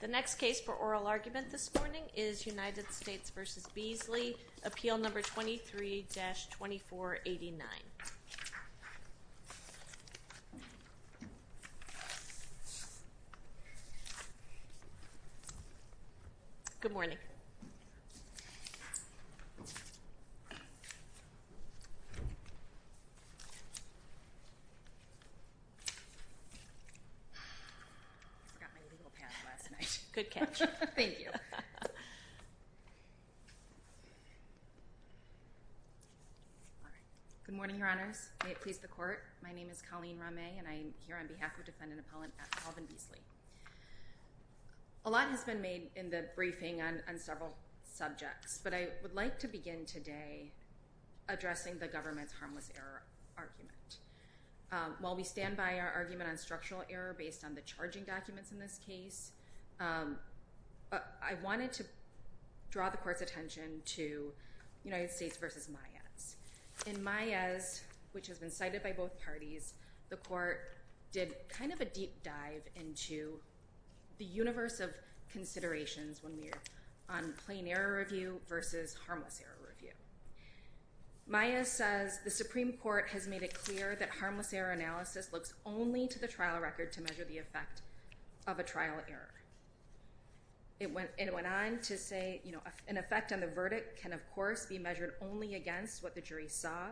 The next case for oral argument this morning is United States v. Beasley, appeal number 23-2489. Good morning. Good catch. Thank you. Good morning, your honors. May it please the court. My name is Colleen Ramay, and I am here on behalf of defendant appellant Alvin Beasley. A lot has been made in the briefing on several subjects, but I would like to begin today addressing the government's harmless error argument. While we stand by our argument on structural error based on the charging documents in this case, I wanted to draw the court's attention to United States v. Maez. In Maez, which has been cited by both parties, the court did kind of a deep dive into the universe of considerations when we are on plain error review v. harmless error review. Maez says the Supreme Court has made it clear that harmless error analysis looks only to the trial record to measure the effect of a trial error. It went on to say an effect on the verdict can, of course, be measured only against what the jury saw,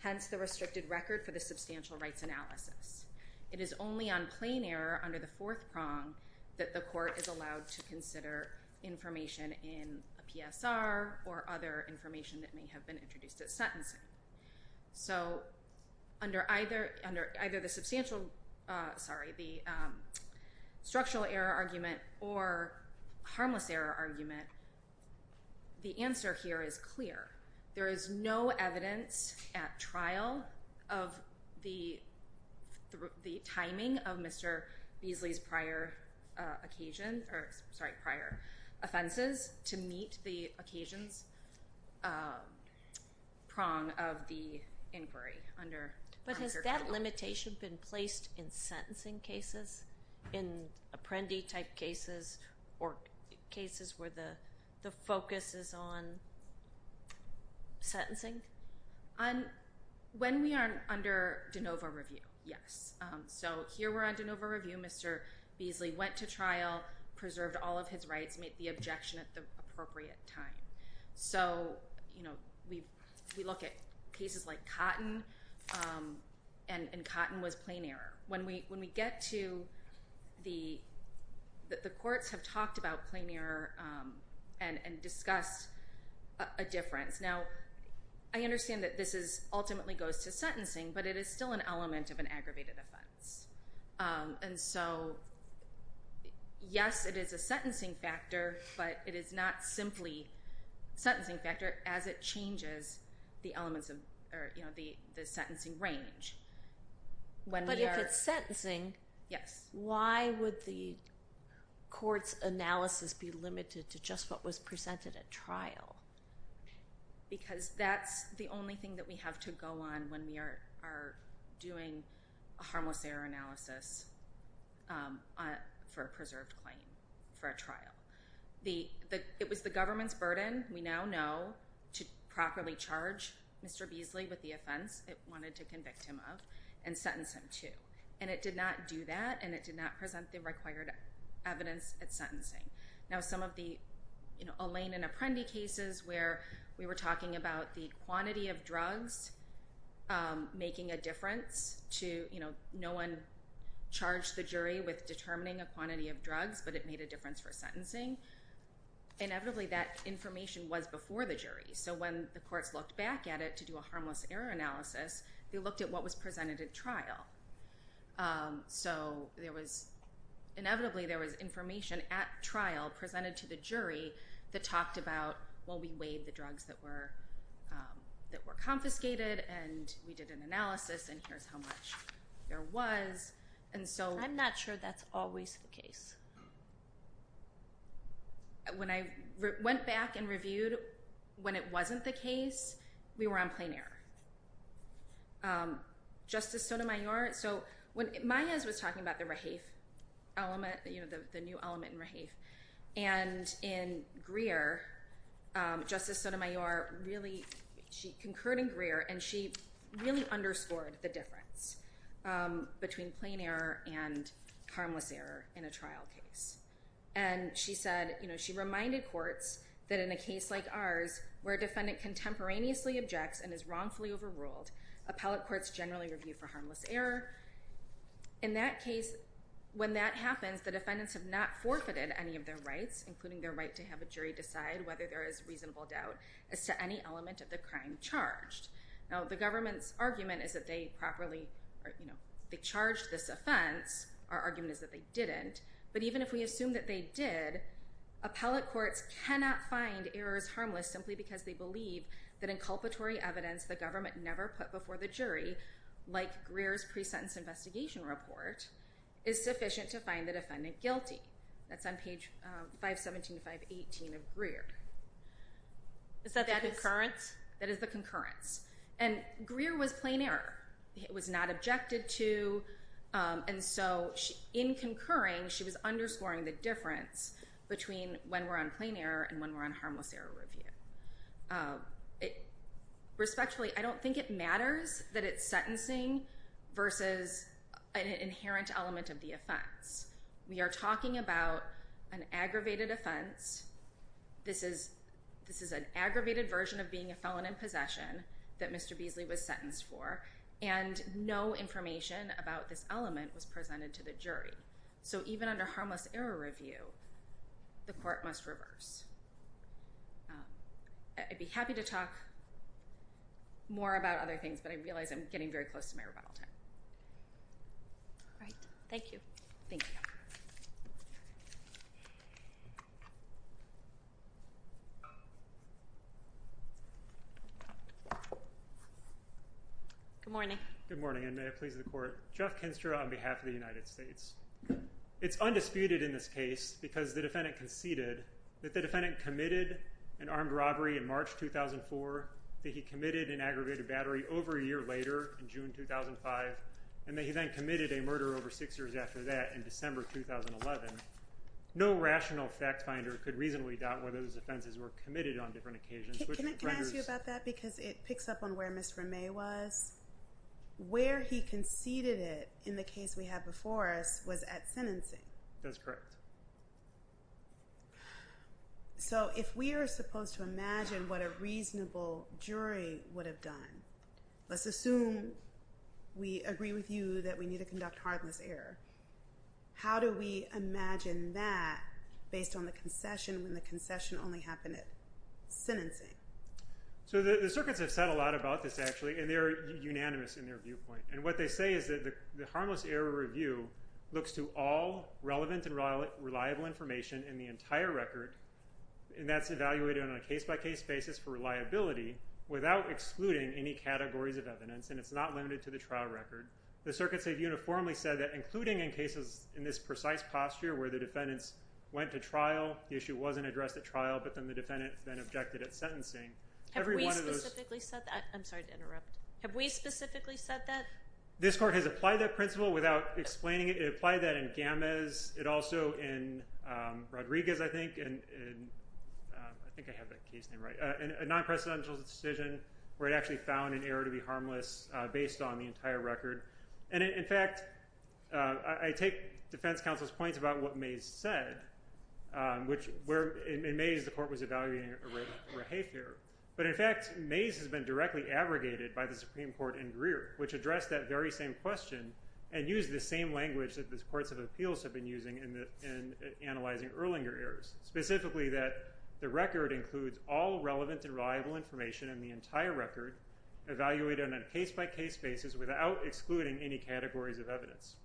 hence the restricted record for the substantial rights analysis. It is only on plain error under the fourth prong that the court is allowed to consider information in a PSR or other information that may have been introduced at sentencing. So under either the structural error argument or harmless error argument, the answer here is clear. There is no evidence at trial of the timing of Mr. Beasley's prior occasion or, sorry, prior offenses to meet the occasions prong of the inquiry under harmless error trial. But has that limitation been placed in sentencing cases, in apprendee-type cases or cases where the focus is on sentencing? When we are under de novo review, yes. So here we're on de novo review. Mr. Beasley went to trial, preserved all of his rights, made the objection at the appropriate time. So we look at cases like Cotton, and Cotton was plain error. When we get to the courts have talked about plain error and discussed a difference. Now, I understand that this ultimately goes to sentencing, but it is still an element of an aggravated offense. And so, yes, it is a sentencing factor, but it is not simply a sentencing factor as it changes the sentencing range. But if it's sentencing, why would the court's analysis be limited to just what was presented at trial? Because that's the only thing that we have to go on when we are doing a harmless error analysis for a preserved claim, for a trial. It was the government's burden, we now know, to properly charge Mr. Beasley with the offense. It wanted to convict him of and sentence him to. And it did not do that, and it did not present the required evidence at sentencing. Now, some of the Elaine and Apprendi cases where we were talking about the quantity of drugs making a difference to, you know, no one charged the jury with determining a quantity of drugs, but it made a difference for sentencing. Inevitably, that information was before the jury. So when the courts looked back at it to do a harmless error analysis, they looked at what was presented at trial. So there was, inevitably, there was information at trial presented to the jury that talked about, well, we weighed the drugs that were confiscated, and we did an analysis, and here's how much there was. I'm not sure that's always the case. When I went back and reviewed when it wasn't the case, we were on plain error. Justice Sotomayor, so when Maez was talking about the Rahafe element, you know, the new element in Rahafe, and in Greer, Justice Sotomayor really, she concurred in Greer, and she really underscored the difference between plain error and harmless error in a trial case. And she said, you know, she reminded courts that in a case like ours, where a defendant contemporaneously objects and is wrongfully overruled, appellate courts generally review for harmless error. In that case, when that happens, the defendants have not forfeited any of their rights, including their right to have a jury decide whether there is reasonable doubt as to any element of the crime charged. Now, the government's argument is that they properly, you know, they charged this offense. Our argument is that they didn't. But even if we assume that they did, appellate courts cannot find errors harmless simply because they believe that inculpatory evidence the government never put before the jury, like Greer's pre-sentence investigation report, is sufficient to find the defendant guilty. That's on page 517 to 518 of Greer. Is that the concurrence? That is the concurrence. And Greer was plain error. It was not objected to. And so in concurring, she was underscoring the difference between when we're on plain error and when we're on harmless error review. Respectfully, I don't think it matters that it's sentencing versus an inherent element of the offense. We are talking about an aggravated offense. This is an aggravated version of being a felon in possession that Mr. Beasley was sentenced for. And no information about this element was presented to the jury. So even under harmless error review, the court must reverse. I'd be happy to talk more about other things, but I realize I'm getting very close to my rebuttal time. All right. Thank you. Thank you. Good morning. Good morning, and may it please the court. Jeff Kinster on behalf of the United States. It's undisputed in this case because the defendant conceded that the defendant committed an armed robbery in March 2004, that he committed an aggravated battery over a year later in June 2005, and that he then committed a murder over six years after that in December 2011. No rational fact finder could reasonably doubt whether those offenses were committed on different occasions. Can I ask you about that? Because it picks up on where Ms. Ramay was. Where he conceded it in the case we have before us was at sentencing. That's correct. So if we are supposed to imagine what a reasonable jury would have done, let's assume we agree with you that we need to conduct harmless error. How do we imagine that based on the concession when the concession only happened at sentencing? So the circuits have said a lot about this, actually, and they're unanimous in their viewpoint. And what they say is that the harmless error review looks to all relevant and reliable information in the entire record, and that's evaluated on a case-by-case basis for reliability without excluding any categories of evidence, and it's not limited to the trial record. The circuits have uniformly said that, including in cases in this precise posture where the defendants went to trial, the issue wasn't addressed at trial, but then the defendant then objected at sentencing. Have we specifically said that? I'm sorry to interrupt. Have we specifically said that? This court has applied that principle without explaining it. It applied that in Gammes. It also in Rodriguez, I think, and I think I have that case name right, a non-precedential decision where it actually found an error to be harmless based on the entire record. And, in fact, I take defense counsel's points about what Mays said, which in Mays the court was evaluating a Rafe error. But, in fact, Mays has been directly abrogated by the Supreme Court in Greer, which addressed that very same question and used the same language that the courts of appeals have been using in analyzing Erlinger errors, specifically that the record includes all relevant and reliable information in the entire record, evaluated on a case-by-case basis without excluding any categories of evidence.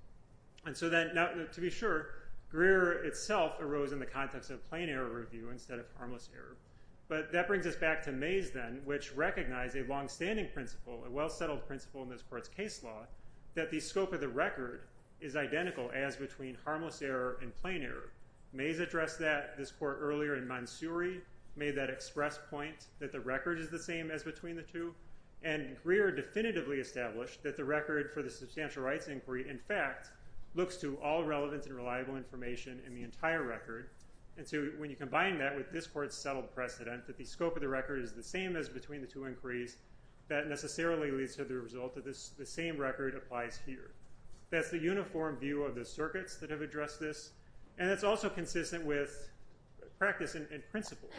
And so then, to be sure, Greer itself arose in the context of plain error review instead of harmless error. But that brings us back to Mays then, which recognized a longstanding principle, a well-settled principle in this court's case law, that the scope of the record is identical as between harmless error and plain error. Mays addressed that, this court, earlier in Mansouri, made that express point that the record is the same as between the two. And Greer definitively established that the record for the substantial rights inquiry, in fact, looks to all relevant and reliable information in the entire record. And so when you combine that with this court's settled precedent that the scope of the record is the same as between the two inquiries, that necessarily leads to the result that the same record applies here. That's the uniform view of the circuits that have addressed this, and it's also consistent with practice and principle.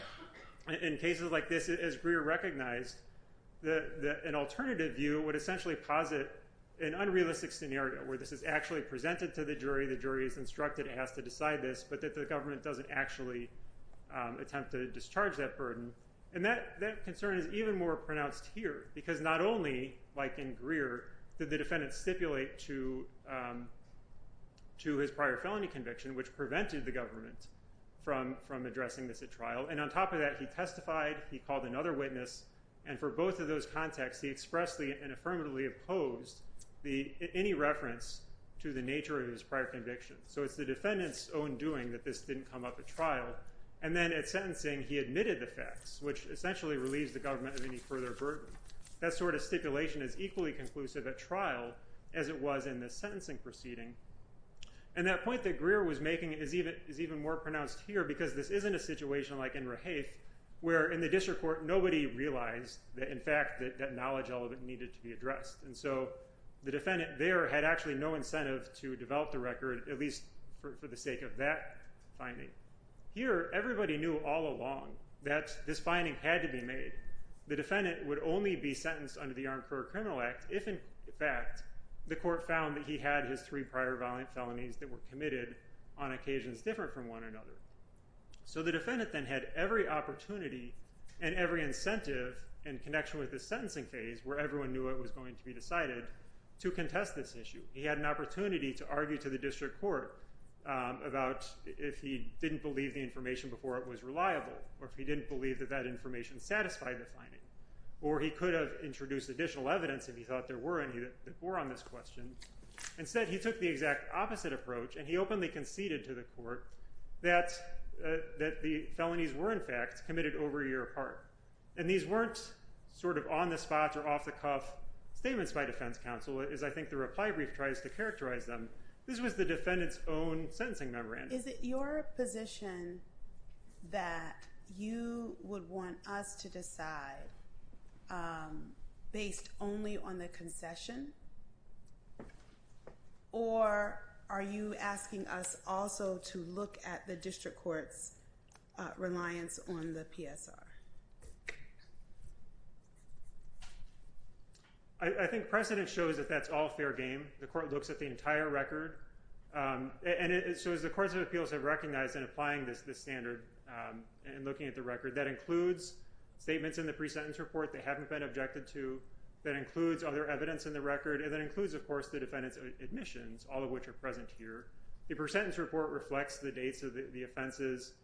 In cases like this, as Greer recognized, an alternative view would essentially posit an unrealistic scenario where this is actually presented to the jury, the jury is instructed, asked to decide this, but that the government doesn't actually attempt to discharge that burden. And that concern is even more pronounced here, because not only, like in Greer, did the defendant stipulate to his prior felony conviction, which prevented the government from addressing this at trial, and on top of that, he testified, he called another witness, and for both of those contexts, he expressedly and affirmatively opposed any reference to the nature of his prior conviction. So it's the defendant's own doing that this didn't come up at trial. And then at sentencing, he admitted the facts, which essentially relieves the government of any further burden. That sort of stipulation is equally conclusive at trial as it was in the sentencing proceeding. And that point that Greer was making is even more pronounced here, because this isn't a situation like in Rehaith, where in the district court, nobody realized that, in fact, that knowledge element needed to be addressed. And so the defendant there had actually no incentive to develop the record, at least for the sake of that finding. Here, everybody knew all along that this finding had to be made. The defendant would only be sentenced under the Arncourt Criminal Act if, in fact, the court found that he had his three prior felonies that were committed on occasions different from one another. So the defendant then had every opportunity and every incentive in connection with the sentencing phase, where everyone knew it was going to be decided, to contest this issue. He had an opportunity to argue to the district court about if he didn't believe the information before it was reliable, or if he didn't believe that that information satisfied the finding, or he could have introduced additional evidence if he thought there were any that bore on this question. Instead, he took the exact opposite approach, and he openly conceded to the court that the felonies were, in fact, committed over a year apart. And these weren't sort of on-the-spots or off-the-cuff statements by defense counsel, as I think the reply brief tries to characterize them. This was the defendant's own sentencing memorandum. Is it your position that you would want us to decide based only on the concession, or are you asking us also to look at the district court's reliance on the PSR? I think precedent shows that that's all fair game. The court looks at the entire record. And so as the courts of appeals have recognized in applying this standard and looking at the record, that includes statements in the pre-sentence report that haven't been objected to. That includes other evidence in the record. And that includes, of course, the defendant's admissions, all of which are present here. The pre-sentence report reflects the dates of the offenses.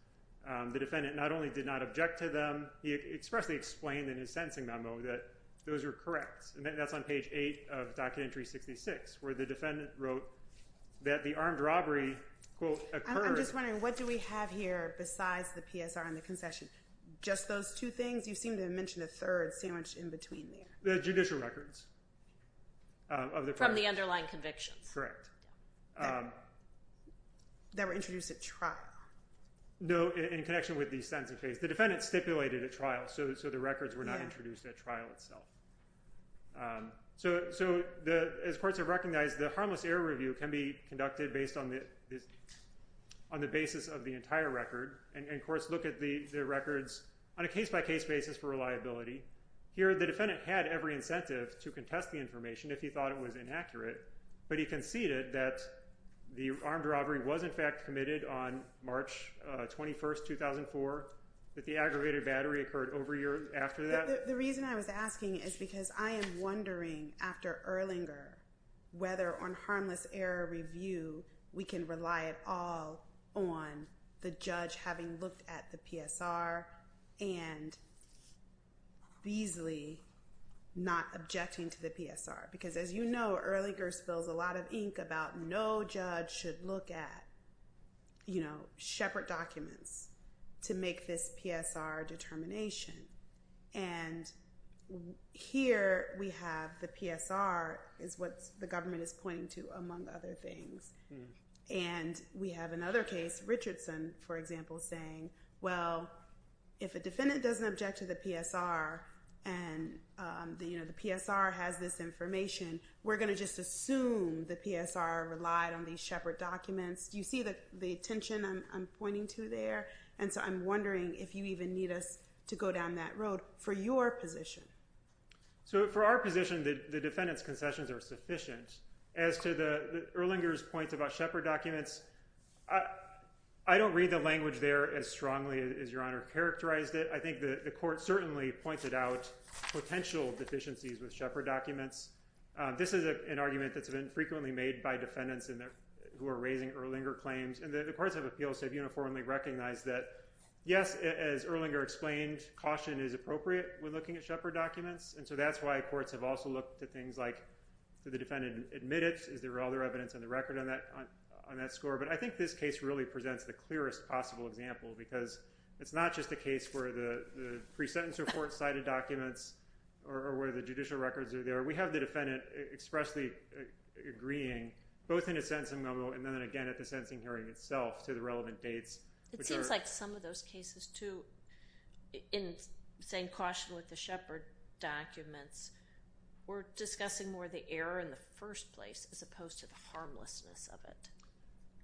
The defendant not only did not object to them, he expressly explained in his sentencing memo that those were correct. And that's on page 8 of Document 366, where the defendant wrote that the armed robbery, quote, occurred. I'm just wondering, what do we have here besides the PSR and the concession? Just those two things? You seem to have mentioned a third sandwiched in between there. The judicial records. From the underlying convictions. Correct. That were introduced at trial. No, in connection with the sentence case. The defendant stipulated at trial, so the records were not introduced at trial itself. So as courts have recognized, the harmless error review can be conducted based on the basis of the entire record. And courts look at the records on a case-by-case basis for reliability. Here, the defendant had every incentive to contest the information if he thought it was inaccurate. But he conceded that the armed robbery was, in fact, committed on March 21, 2004. That the aggregated battery occurred over a year after that. The reason I was asking is because I am wondering, after Erlinger, whether on harmless error review, we can rely at all on the judge having looked at the PSR and Beasley not objecting to the PSR. Because as you know, Erlinger spills a lot of ink about no judge should look at shepherd documents to make this PSR determination. And here we have the PSR is what the government is pointing to, among other things. And we have another case, Richardson, for example, saying, well, if a defendant doesn't object to the PSR, and the PSR has this information, we're going to just assume the PSR relied on these shepherd documents. Do you see the tension I'm pointing to there? And so I'm wondering if you even need us to go down that road for your position. So for our position, the defendant's concessions are sufficient. As to Erlinger's point about shepherd documents, I don't read the language there as strongly as Your Honor characterized it. I think the court certainly pointed out potential deficiencies with shepherd documents. This is an argument that's been frequently made by defendants who are raising Erlinger claims. And the courts of appeals have uniformly recognized that, yes, as Erlinger explained, caution is appropriate when looking at shepherd documents. And so that's why courts have also looked at things like, did the defendant admit it? Is there other evidence on the record on that score? But I think this case really presents the clearest possible example because it's not just a case where the pre-sentence report cited documents or where the judicial records are there. We have the defendant expressly agreeing both in a sentencing memo and then again at the sentencing hearing itself to the relevant dates. It seems like some of those cases, too, in saying caution with the shepherd documents, were discussing more the error in the first place as opposed to the harmlessness of it.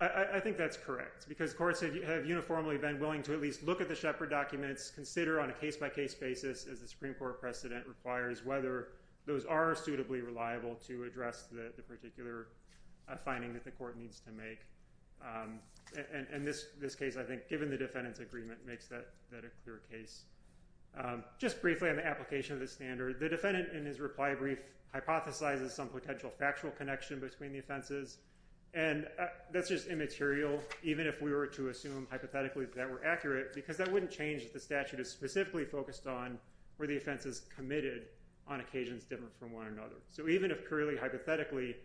I think that's correct because courts have uniformly been willing to at least look at the shepherd documents, consider on a case-by-case basis, as the Supreme Court precedent requires, whether those are suitably reliable to address the particular finding that the court needs to make. And this case, I think, given the defendant's agreement, makes that a clear case. Just briefly on the application of the standard, the defendant in his reply brief hypothesizes some potential factual connection between the offenses. And that's just immaterial, even if we were to assume hypothetically that were accurate, because that wouldn't change if the statute is specifically focused on were the offenses committed on occasions different from one another. So even if clearly, hypothetically,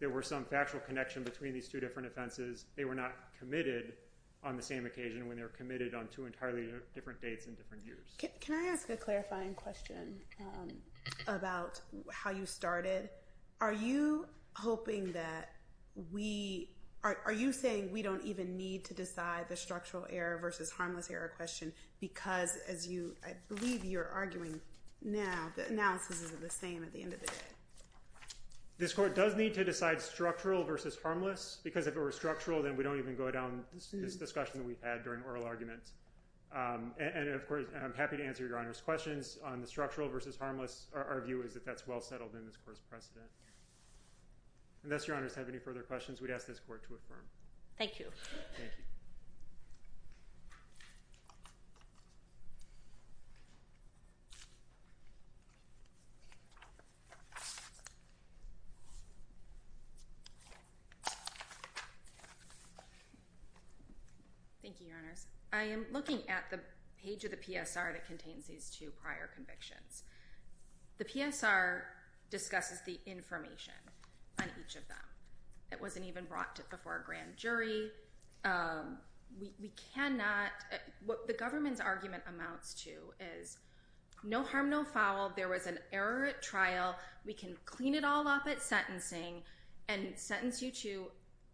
there were some factual connection between these two different offenses, they were not committed on the same occasion when they were committed on two entirely different dates and different years. Can I ask a clarifying question about how you started? Are you saying we don't even need to decide the structural error versus harmless error question because, as I believe you're arguing now, the analysis isn't the same at the end of the day? This court does need to decide structural versus harmless because if it were structural, then we don't even go down this discussion that we've had during oral arguments. And of course, I'm happy to answer Your Honor's questions on the structural versus harmless. Our view is that that's well settled in this court's precedent. Unless Your Honors have any further questions, we'd ask this court to affirm. Thank you. Thank you. Thank you, Your Honors. I am looking at the page of the PSR that contains these two prior convictions. The PSR discusses the information on each of them. It wasn't even brought before a grand jury. We cannot – what the government's argument amounts to is no harm, no foul. There was an error at trial. We can clean it all up at sentencing and sentence you to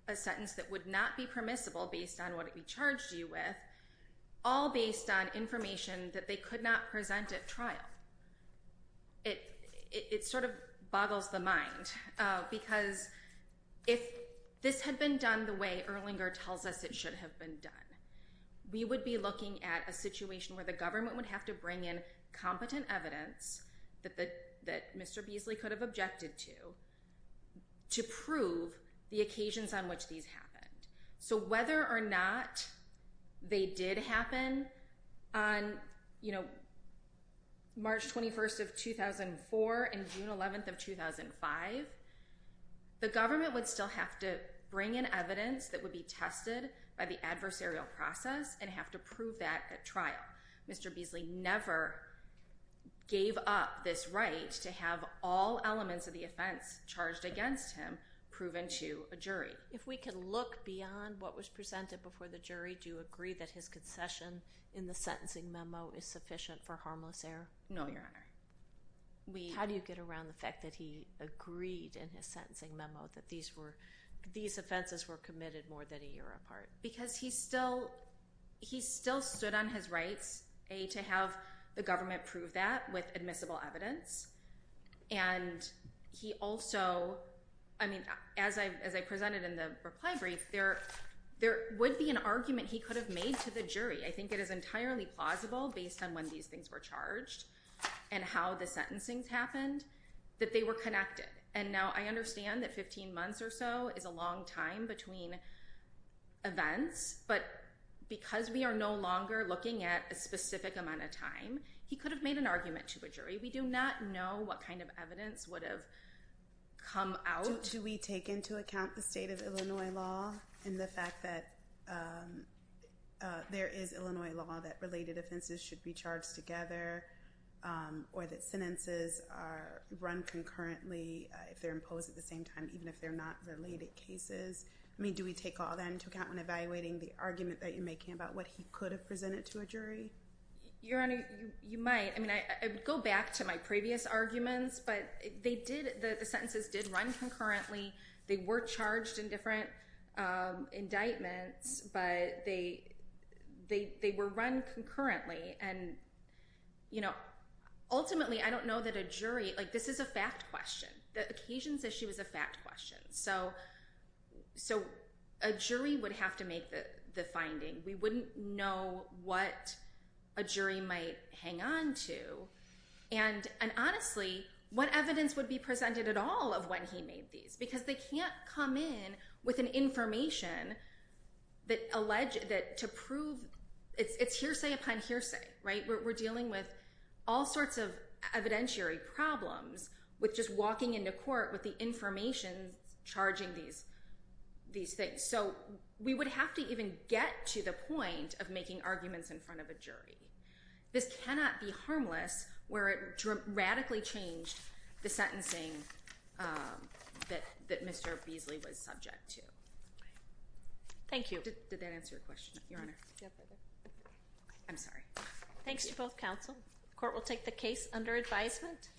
a sentence that would not be permissible based on what it charged you with, all based on information that they could not present at trial. It sort of boggles the mind because if this had been done the way Erlinger tells us it should have been done, we would be looking at a situation where the government would have to bring in competent evidence that Mr. Beasley could have objected to to prove the occasions on which these happened. So whether or not they did happen on, you know, March 21st of 2004 and June 11th of 2005, the government would still have to bring in evidence that would be tested by the adversarial process and have to prove that at trial. Mr. Beasley never gave up this right to have all elements of the offense charged against him proven to a jury. If we could look beyond what was presented before the jury, do you agree that his concession in the sentencing memo is sufficient for harmless error? No, Your Honor. How do you get around the fact that he agreed in his sentencing memo that these offenses were committed more than a year apart? Because he still stood on his rights, A, to have the government prove that with admissible evidence, and he also, I mean, as I presented in the reply brief, there would be an argument he could have made to the jury. I think it is entirely plausible, based on when these things were charged and how the sentencings happened, that they were connected. And now I understand that 15 months or so is a long time between events, but because we are no longer looking at a specific amount of time, he could have made an argument to a jury. We do not know what kind of evidence would have come out. So do we take into account the state of Illinois law and the fact that there is Illinois law that related offenses should be charged together, or that sentences are run concurrently if they're imposed at the same time, even if they're not related cases? I mean, do we take all that into account when evaluating the argument that you're making about what he could have presented to a jury? Your Honor, you might. I mean, I would go back to my previous arguments, but the sentences did run concurrently. They were charged in different indictments, but they were run concurrently. And ultimately, I don't know that a jury—like, this is a fact question. The occasions issue is a fact question. So a jury would have to make the finding. We wouldn't know what a jury might hang on to. And honestly, what evidence would be presented at all of when he made these? Because they can't come in with an information that alleged that to prove—it's hearsay upon hearsay, right? We're dealing with all sorts of evidentiary problems with just walking into court with the information charging these things. So we would have to even get to the point of making arguments in front of a jury. This cannot be harmless where it radically changed the sentencing that Mr. Beasley was subject to. Thank you. Did that answer your question, Your Honor? I'm sorry. Thanks to both counsel. The court will take the case under advisement.